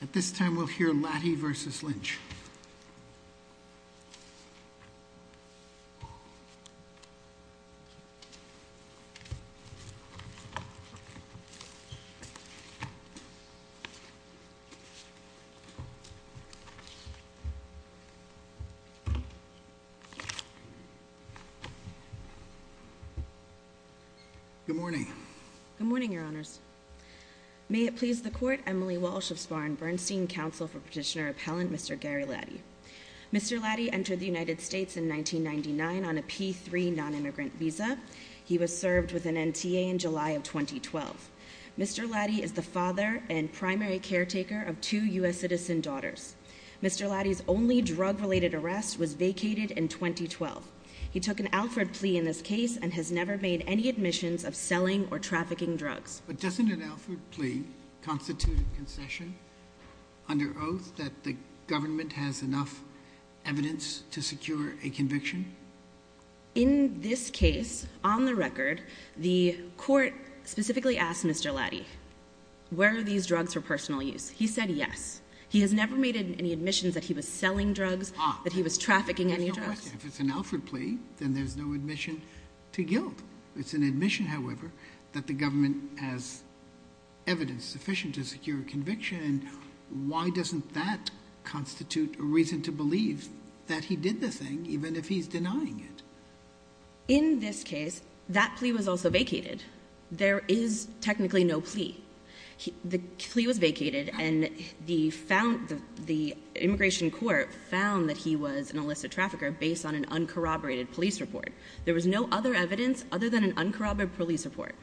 At this time, we'll hear Latty v. Lynch. Good morning. Good morning, Your Honors. May it please the Court, Emily Walsh of Spahn Bernstein, Counsel for Petitioner-Appellant Mr. Gary Latty. Mr. Latty entered the United States in 1999 on a P-3 non-immigrant visa. He was served with an NTA in July of 2012. Mr. Latty is the father and primary caretaker of two U.S. citizen daughters. Mr. Latty's only drug-related arrest was vacated in 2012. He took an Alford plea in this case and has never made any admissions of selling or trafficking drugs. But doesn't an Alford plea constitute a concession under oath that the government has enough evidence to secure a conviction? In this case, on the record, the Court specifically asked Mr. Latty, were these drugs for personal use? He said yes. He has never made any admissions that he was selling drugs, that he was trafficking any drugs. If it's an Alford plea, then there's no admission to guilt. It's an admission, however, that the government has evidence sufficient to secure a conviction, and why doesn't that constitute a reason to believe that he did the thing, even if he's denying it? In this case, that plea was also vacated. There is technically no plea. The plea was vacated, and the immigration court found that he was an illicit trafficker based on an uncorroborated police report. There was no other evidence other than an uncorroborated police report.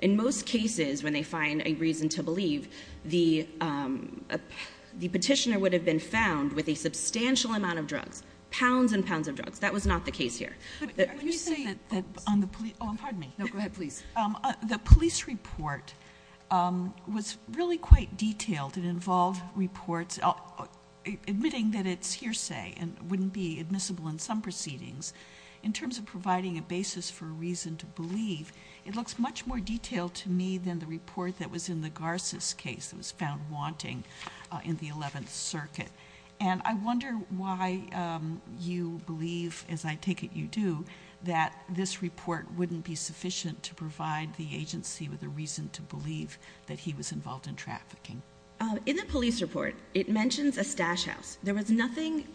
In most cases, when they find a reason to believe, the petitioner would have been found with a substantial amount of drugs, pounds and pounds of drugs. That was not the case here. Are you saying that on the police – oh, pardon me. No, go ahead, please. The police report was really quite detailed. It involved reports admitting that it's hearsay and wouldn't be admissible in some proceedings. In terms of providing a basis for a reason to believe, it looks much more detailed to me than the report that was in the Garces case that was found wanting in the 11th Circuit. And I wonder why you believe, as I take it you do, that this report wouldn't be sufficient to provide the agency with a reason to believe that he was involved in trafficking. In the police report, it mentions a stash house. There was nothing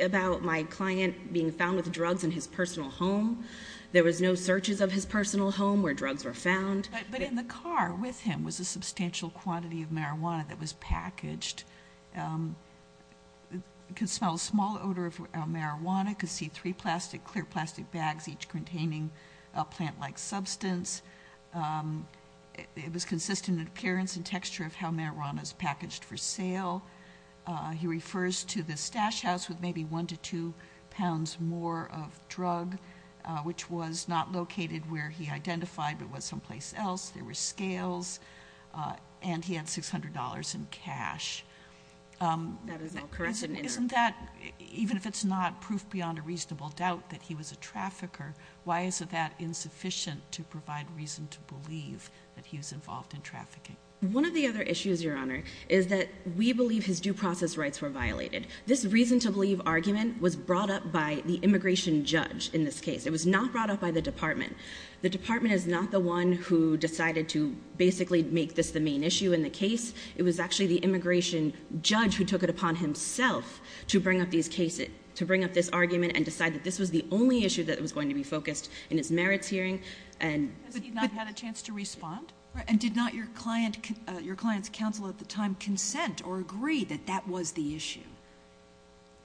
about my client being found with drugs in his personal home. There was no searches of his personal home where drugs were found. But in the car with him was a substantial quantity of marijuana that was packaged. You could smell a small odor of marijuana, could see three clear plastic bags each containing a plant-like substance. It was consistent in appearance and texture of how marijuana is packaged for sale. He refers to this stash house with maybe one to two pounds more of drug, which was not located where he identified but was someplace else. There were scales. And he had $600 in cash. Isn't that, even if it's not proof beyond a reasonable doubt that he was a trafficker, why is it that insufficient to provide reason to believe that he was involved in trafficking? One of the other issues, Your Honor, is that we believe his due process rights were violated. This reason to believe argument was brought up by the immigration judge in this case. It was not brought up by the department. The department is not the one who decided to basically make this the main issue in the case. It was actually the immigration judge who took it upon himself to bring up these cases, to bring up this argument and decide that this was the only issue that was going to be focused in his merits hearing. Has he not had a chance to respond? And did not your client's counsel at the time consent or agree that that was the issue?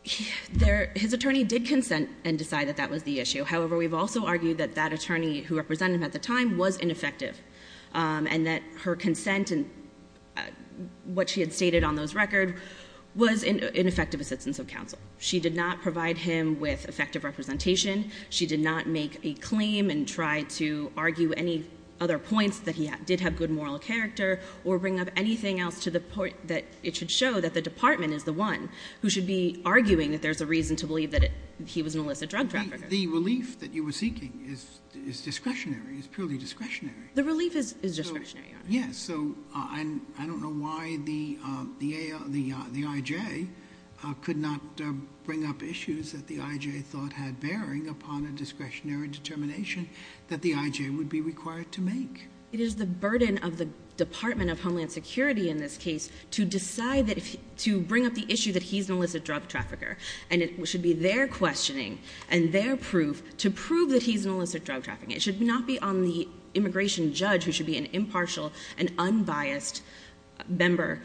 His attorney did consent and decide that that was the issue. However, we've also argued that that attorney who represented him at the time was ineffective and that her consent and what she had stated on those records was ineffective assistance of counsel. She did not provide him with effective representation. She did not make a claim and try to argue any other points that he did have good moral character or bring up anything else to the point that it should show that the department is the one who should be arguing that there's a reason to believe that he was an illicit drug trafficker. The relief that you were seeking is discretionary, is purely discretionary. The relief is discretionary, Your Honor. Yes, so I don't know why the I.J. could not bring up issues that the I.J. thought had bearing upon a discretionary determination that the I.J. would be required to make. It is the burden of the Department of Homeland Security in this case to decide that, to bring up the issue that he's an illicit drug trafficker. And it should be their questioning and their proof to prove that he's an illicit drug trafficker. It should not be on the immigration judge who should be an impartial and unbiased member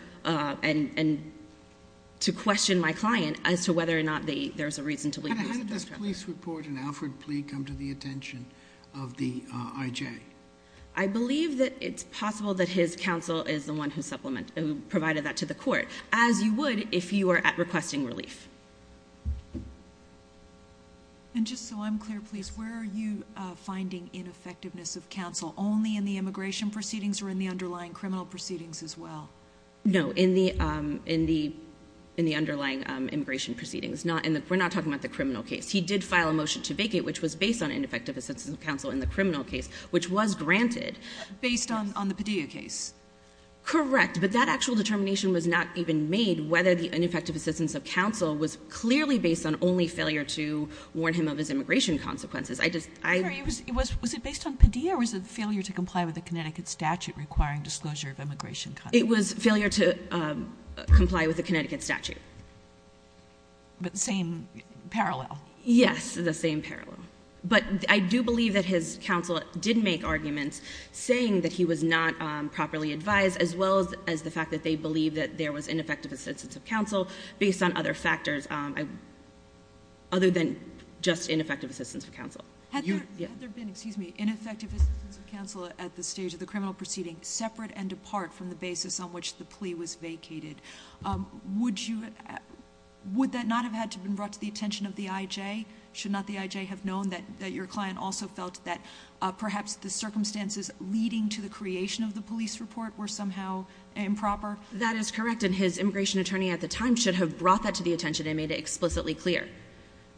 to question my client as to whether or not there's a reason to believe he's an illicit drug trafficker. How did this police report and Alfred plea come to the attention of the I.J.? I believe that it's possible that his counsel is the one who provided that to the court, as you would if you were at requesting relief. And just so I'm clear, please, where are you finding ineffectiveness of counsel? Only in the immigration proceedings or in the underlying criminal proceedings as well? No, in the underlying immigration proceedings. We're not talking about the criminal case. He did file a motion to vacate, which was based on ineffective assistance of counsel in the criminal case, which was granted. Based on the Padilla case? Correct. But that actual determination was not even made whether the ineffective assistance of counsel was clearly based on only failure to warn him of his immigration consequences. Was it based on Padilla or was it failure to comply with the Connecticut statute requiring disclosure of immigration? It was failure to comply with the Connecticut statute. But the same parallel? Yes, the same parallel. But I do believe that his counsel did make arguments saying that he was not properly advised as well as the fact that they believed that there was ineffective assistance of counsel based on other factors other than just ineffective assistance of counsel. Had there been ineffective assistance of counsel at the stage of the criminal proceeding, separate and apart from the basis on which the plea was vacated, would that not have had to have been brought to the attention of the IJ? Should not the IJ have known that your client also felt that perhaps the circumstances leading to the creation of the police report were somehow improper? That is correct. And his immigration attorney at the time should have brought that to the attention and made it explicitly clear.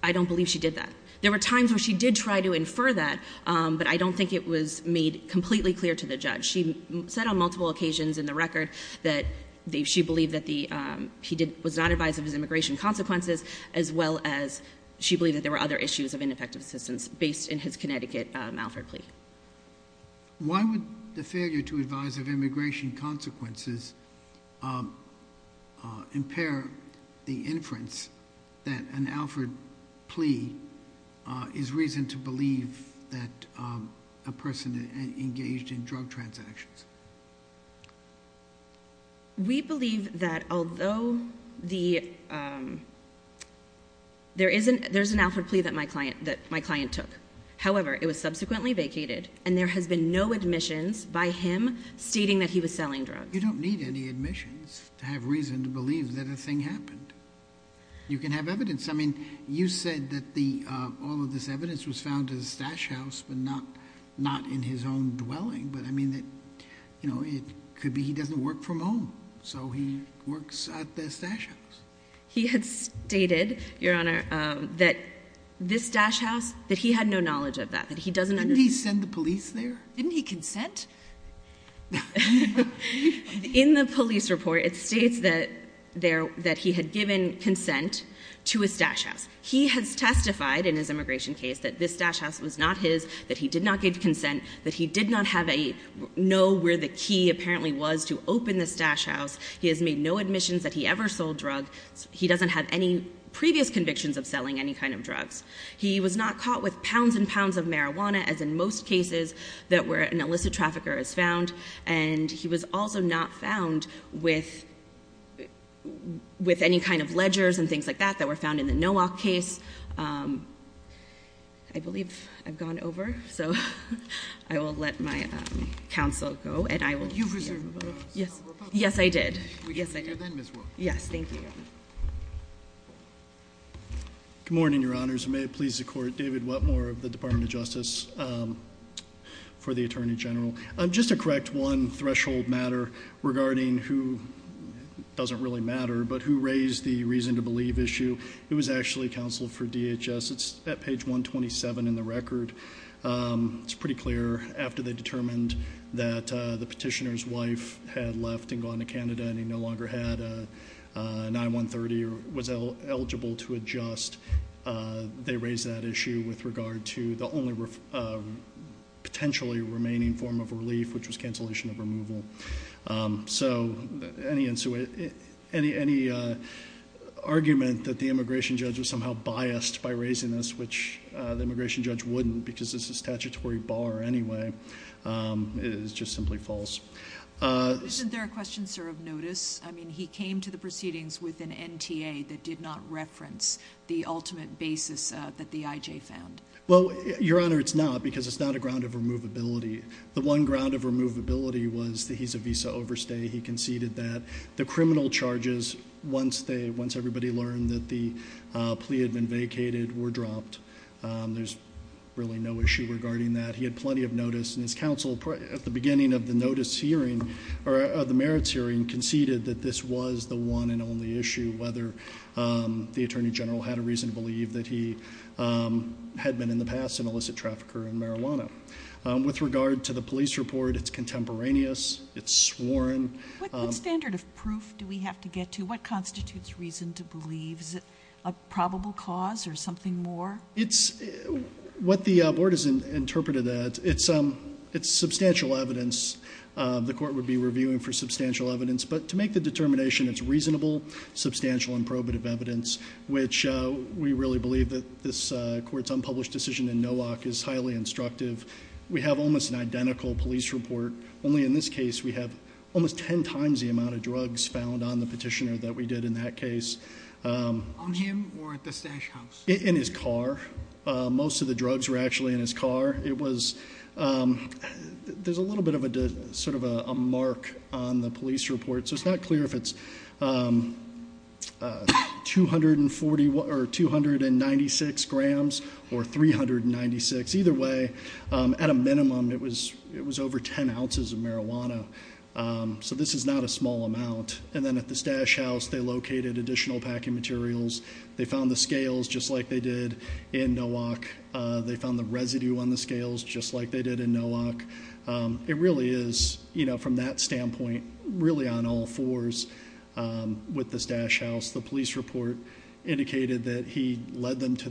I don't believe she did that. There were times where she did try to infer that, but I don't think it was made completely clear to the judge. She said on multiple occasions in the record that she believed that he was not advised of his immigration consequences as well as she believed that there were other issues of ineffective assistance based in his Connecticut Alford plea. Why would the failure to advise of immigration consequences impair the inference that an Alford plea is reason to believe that a person engaged in drug transactions? We believe that although there is an Alford plea that my client took. However, it was subsequently vacated and there has been no admissions by him stating that he was selling drugs. You don't need any admissions to have reason to believe that a thing happened. You can have evidence. I mean, you said that all of this evidence was found at a stash house, but not in his own dwelling. It could be he doesn't work from home, so he works at the stash house. He had stated, Your Honor, that this stash house, that he had no knowledge of that. Didn't he send the police there? Didn't he consent? In the police report, it states that he had given consent to a stash house. He has testified in his immigration case that this stash house was not his, that he did not give consent, that he did not know where the key apparently was to open this stash house. He has made no admissions that he ever sold drugs. He doesn't have any previous convictions of selling any kind of drugs. He was not caught with pounds and pounds of marijuana, as in most cases, that where an illicit trafficker is found. And he was also not found with any kind of ledgers and things like that that were found in the Nowak case. I believe I've gone over, so I will let my counsel go. You've resumed. Yes, I did. We can hear you then, Ms. Wilk. Yes, thank you. Good morning, Your Honors, and may it please the Court, David Whatmore of the Department of Justice for the Attorney General. Just to correct one threshold matter regarding who doesn't really matter, but who raised the reason to believe issue, it was actually counsel for DHS. It's at page 127 in the record. It's pretty clear after they determined that the petitioner's wife had left and gone to Canada and he no longer had an I-130 or was eligible to adjust, they raised that issue with regard to the only potentially remaining form of relief, which was cancellation of removal. So any argument that the immigration judge was somehow biased by raising this, which the immigration judge wouldn't because it's a statutory bar anyway, is just simply false. Isn't there a question, sir, of notice? I mean, he came to the proceedings with an NTA that did not reference the ultimate basis that the IJ found. Well, Your Honor, it's not because it's not a ground of removability. The one ground of removability was that he's a visa overstay. He conceded that the criminal charges, once everybody learned that the plea had been vacated, were dropped. There's really no issue regarding that. He had plenty of notice, and his counsel, at the beginning of the merits hearing, conceded that this was the one and only issue, whether the attorney general had a reason to believe that he had been in the past an illicit trafficker in marijuana. With regard to the police report, it's contemporaneous. It's sworn. What standard of proof do we have to get to? What constitutes reason to believe? Is it a probable cause or something more? It's what the board has interpreted that. It's substantial evidence. The court would be reviewing for substantial evidence. But to make the determination, it's reasonable, substantial, and probative evidence, which we really believe that this court's unpublished decision in Nowak is highly instructive. We have almost an identical police report. Only in this case, we have almost ten times the amount of drugs found on the petitioner that we did in that case. On him or at the stash house? In his car. Most of the drugs were actually in his car. There's a little bit of a mark on the police report. So it's not clear if it's 296 grams or 396. Either way, at a minimum, it was over ten ounces of marijuana. So this is not a small amount. And then at the stash house, they located additional packing materials. They found the scales just like they did in Nowak. They found the residue on the scales just like they did in Nowak. It really is, from that standpoint, really on all fours with this stash house. The police report indicated that he led them to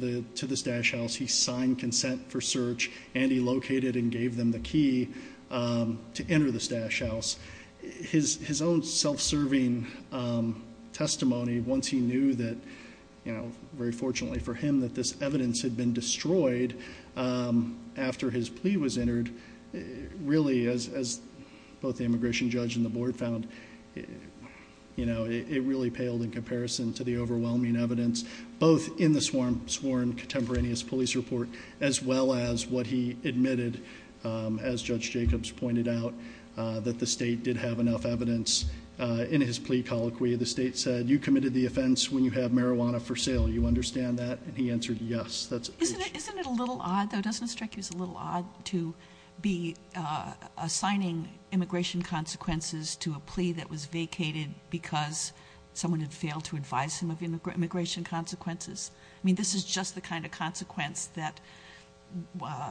this stash house. He signed consent for search. And he located and gave them the key to enter this stash house. His own self-serving testimony, once he knew that, very fortunately for him, that this evidence had been destroyed after his plea was entered, really, as both the immigration judge and the board found, it really paled in comparison to the overwhelming evidence, both in the sworn contemporaneous police report, as well as what he admitted, as Judge Jacobs pointed out, that the state did have enough evidence in his plea colloquy. The state said, you committed the offense when you have marijuana for sale. You understand that? And he answered yes. Isn't it a little odd, though? Doesn't it strike you as a little odd to be assigning immigration consequences to a plea that was vacated because someone had failed to advise him of immigration consequences? I mean, this is just the kind of consequence that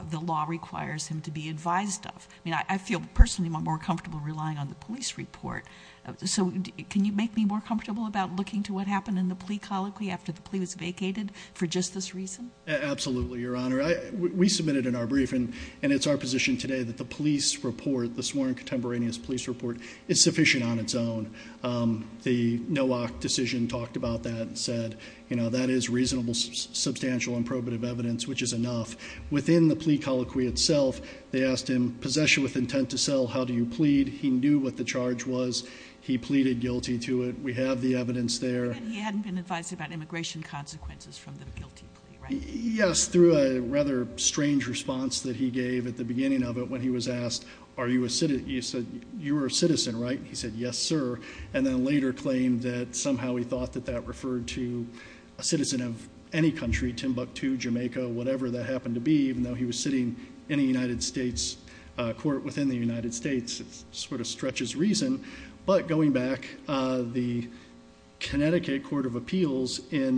the law requires him to be advised of. I mean, I feel personally more comfortable relying on the police report. So can you make me more comfortable about looking to what happened in the plea colloquy after the plea was vacated for just this reason? Absolutely, Your Honor. We submitted in our briefing, and it's our position today, that the police report, the sworn contemporaneous police report, is sufficient on its own. The Nowak decision talked about that and said, you know, that is reasonable, substantial, and probative evidence, which is enough. Within the plea colloquy itself, they asked him, possession with intent to sell, how do you plead? He knew what the charge was. He pleaded guilty to it. We have the evidence there. And he hadn't been advised about immigration consequences from the guilty plea, right? Yes, through a rather strange response that he gave at the beginning of it when he was asked, you were a citizen, right? He said, yes, sir. And then later claimed that somehow he thought that that referred to a citizen of any country, Timbuktu, Jamaica, whatever that happened to be, even though he was sitting in a United States court within the United States. It sort of stretches reason. But going back, the Connecticut Court of Appeals in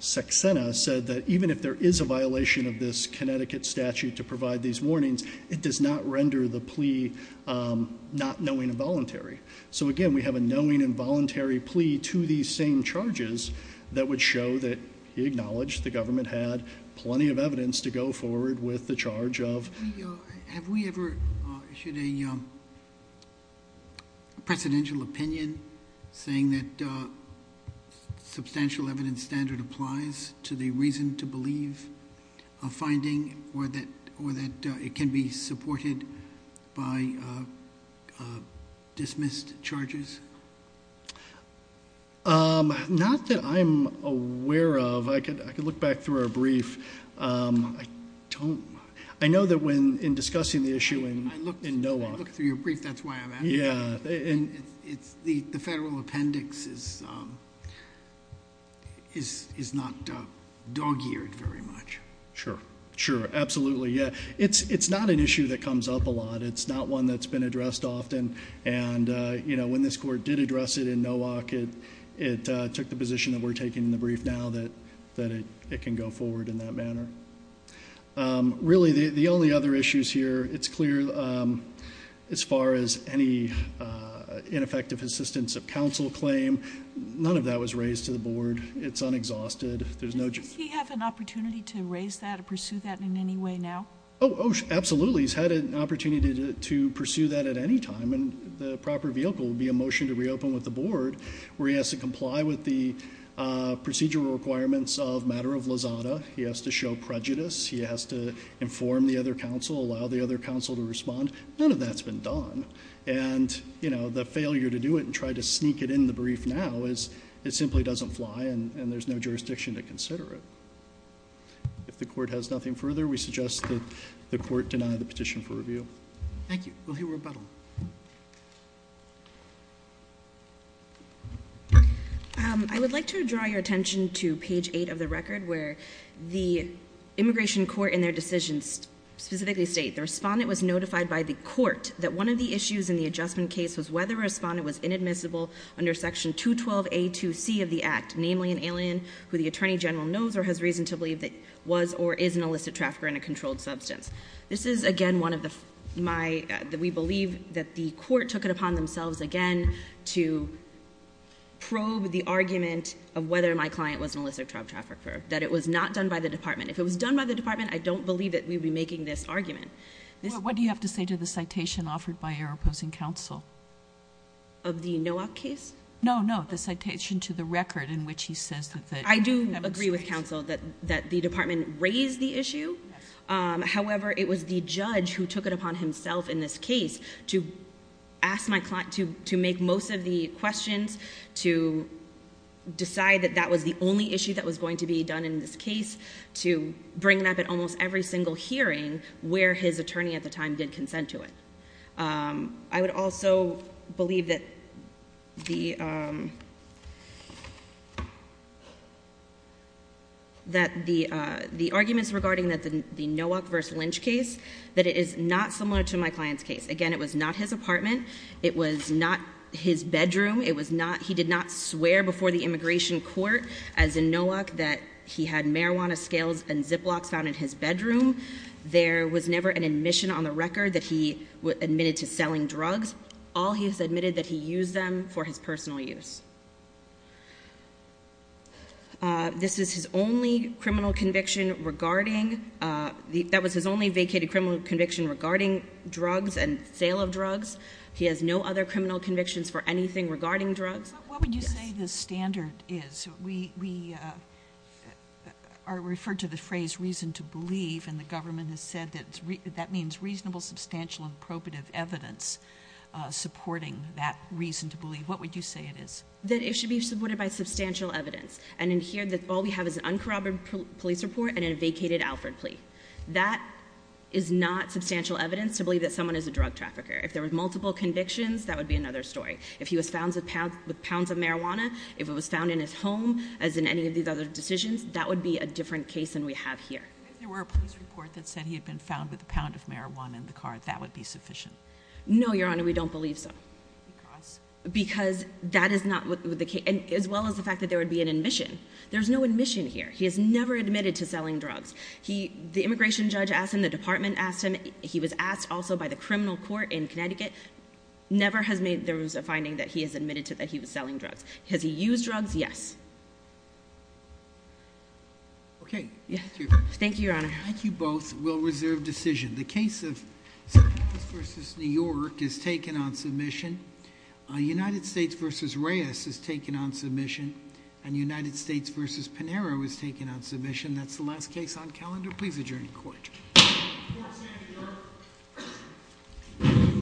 Saxena said that even if there is a violation of this Connecticut statute to provide these warnings, it does not render the plea not knowing and voluntary. So, again, we have a knowing and voluntary plea to these same charges that would show that he acknowledged the government had plenty of evidence to go forward with the charge of ---- Have we ever issued a presidential opinion saying that substantial evidence standard applies to the reason to believe a finding or that it can be supported by dismissed charges? Not that I'm aware of. I could look back through our brief. I know that when in discussing the issue in NOAC ---- I looked through your brief. That's why I'm asking. Yeah. The federal appendix is not dog-eared very much. Sure. Sure. Absolutely. Yeah. It's not an issue that comes up a lot. It's not one that's been addressed often. And when this court did address it in NOAC, it took the position that we're taking in the brief now that it can go forward in that manner. Really, the only other issues here, it's clear as far as any ineffective assistance of counsel claim, none of that was raised to the board. It's unexhausted. Does he have an opportunity to raise that or pursue that in any way now? Oh, absolutely. He's had an opportunity to pursue that at any time. And the proper vehicle would be a motion to reopen with the board, where he has to comply with the procedural requirements of matter of lazada. He has to show prejudice. He has to inform the other counsel, allow the other counsel to respond. None of that's been done. And, you know, the failure to do it and try to sneak it in the brief now is it simply doesn't fly, and there's no jurisdiction to consider it. If the court has nothing further, we suggest that the court deny the petition for review. Thank you. We'll hear rebuttal. I would like to draw your attention to page 8 of the record, where the immigration court in their decisions specifically state, the respondent was notified by the court that one of the issues in the adjustment case was whether a respondent was inadmissible under Section 212A2C of the Act, namely an alien who the attorney general knows or has reason to believe that was or is an illicit trafficker and a controlled substance. This is, again, one of the my we believe that the court took it upon themselves, again, to probe the argument of whether my client was an illicit trafficker, that it was not done by the department. If it was done by the department, I don't believe that we would be making this argument. What do you have to say to the citation offered by your opposing counsel? Of the NOAC case? No, no, the citation to the record in which he says that. I do agree with counsel that the department raised the issue. However, it was the judge who took it upon himself in this case to make most of the questions, to decide that that was the only issue that was going to be done in this case, to bring it up at almost every single hearing where his attorney at the time did consent to it. I would also believe that the arguments regarding the NOAC v. Lynch case, that it is not similar to my client's case. Again, it was not his apartment. It was not his bedroom. He did not swear before the immigration court, as in NOAC, that he had marijuana scales and Ziplocs found in his bedroom. There was never an admission on the record that he admitted to selling drugs. All he has admitted that he used them for his personal use. This is his only criminal conviction regarding the – that was his only vacated criminal conviction regarding drugs and sale of drugs. He has no other criminal convictions for anything regarding drugs. What would you say the standard is? We are referred to the phrase reason to believe, and the government has said that that means reasonable, substantial, and probative evidence supporting that reason to believe. What would you say it is? That it should be supported by substantial evidence. And in here, all we have is an uncorroborated police report and a vacated Alford plea. That is not substantial evidence to believe that someone is a drug trafficker. If there were multiple convictions, that would be another story. If he was found with pounds of marijuana, if it was found in his home, as in any of these other decisions, that would be a different case than we have here. If there were a police report that said he had been found with a pound of marijuana in the car, that would be sufficient? No, Your Honor, we don't believe so. Because? Because that is not – as well as the fact that there would be an admission. There is no admission here. He has never admitted to selling drugs. The immigration judge asked him, the department asked him, he was asked also by the criminal court in Connecticut. Never has there been a finding that he has admitted to that he was selling drugs. Has he used drugs? Yes. Okay. Thank you, Your Honor. Thank you both. We'll reserve decision. The case of Sanchez v. New York is taken on submission. United States v. Reyes is taken on submission. And United States v. Pinheiro is taken on submission. That's the last case on calendar. Please adjourn the court. Court is adjourned.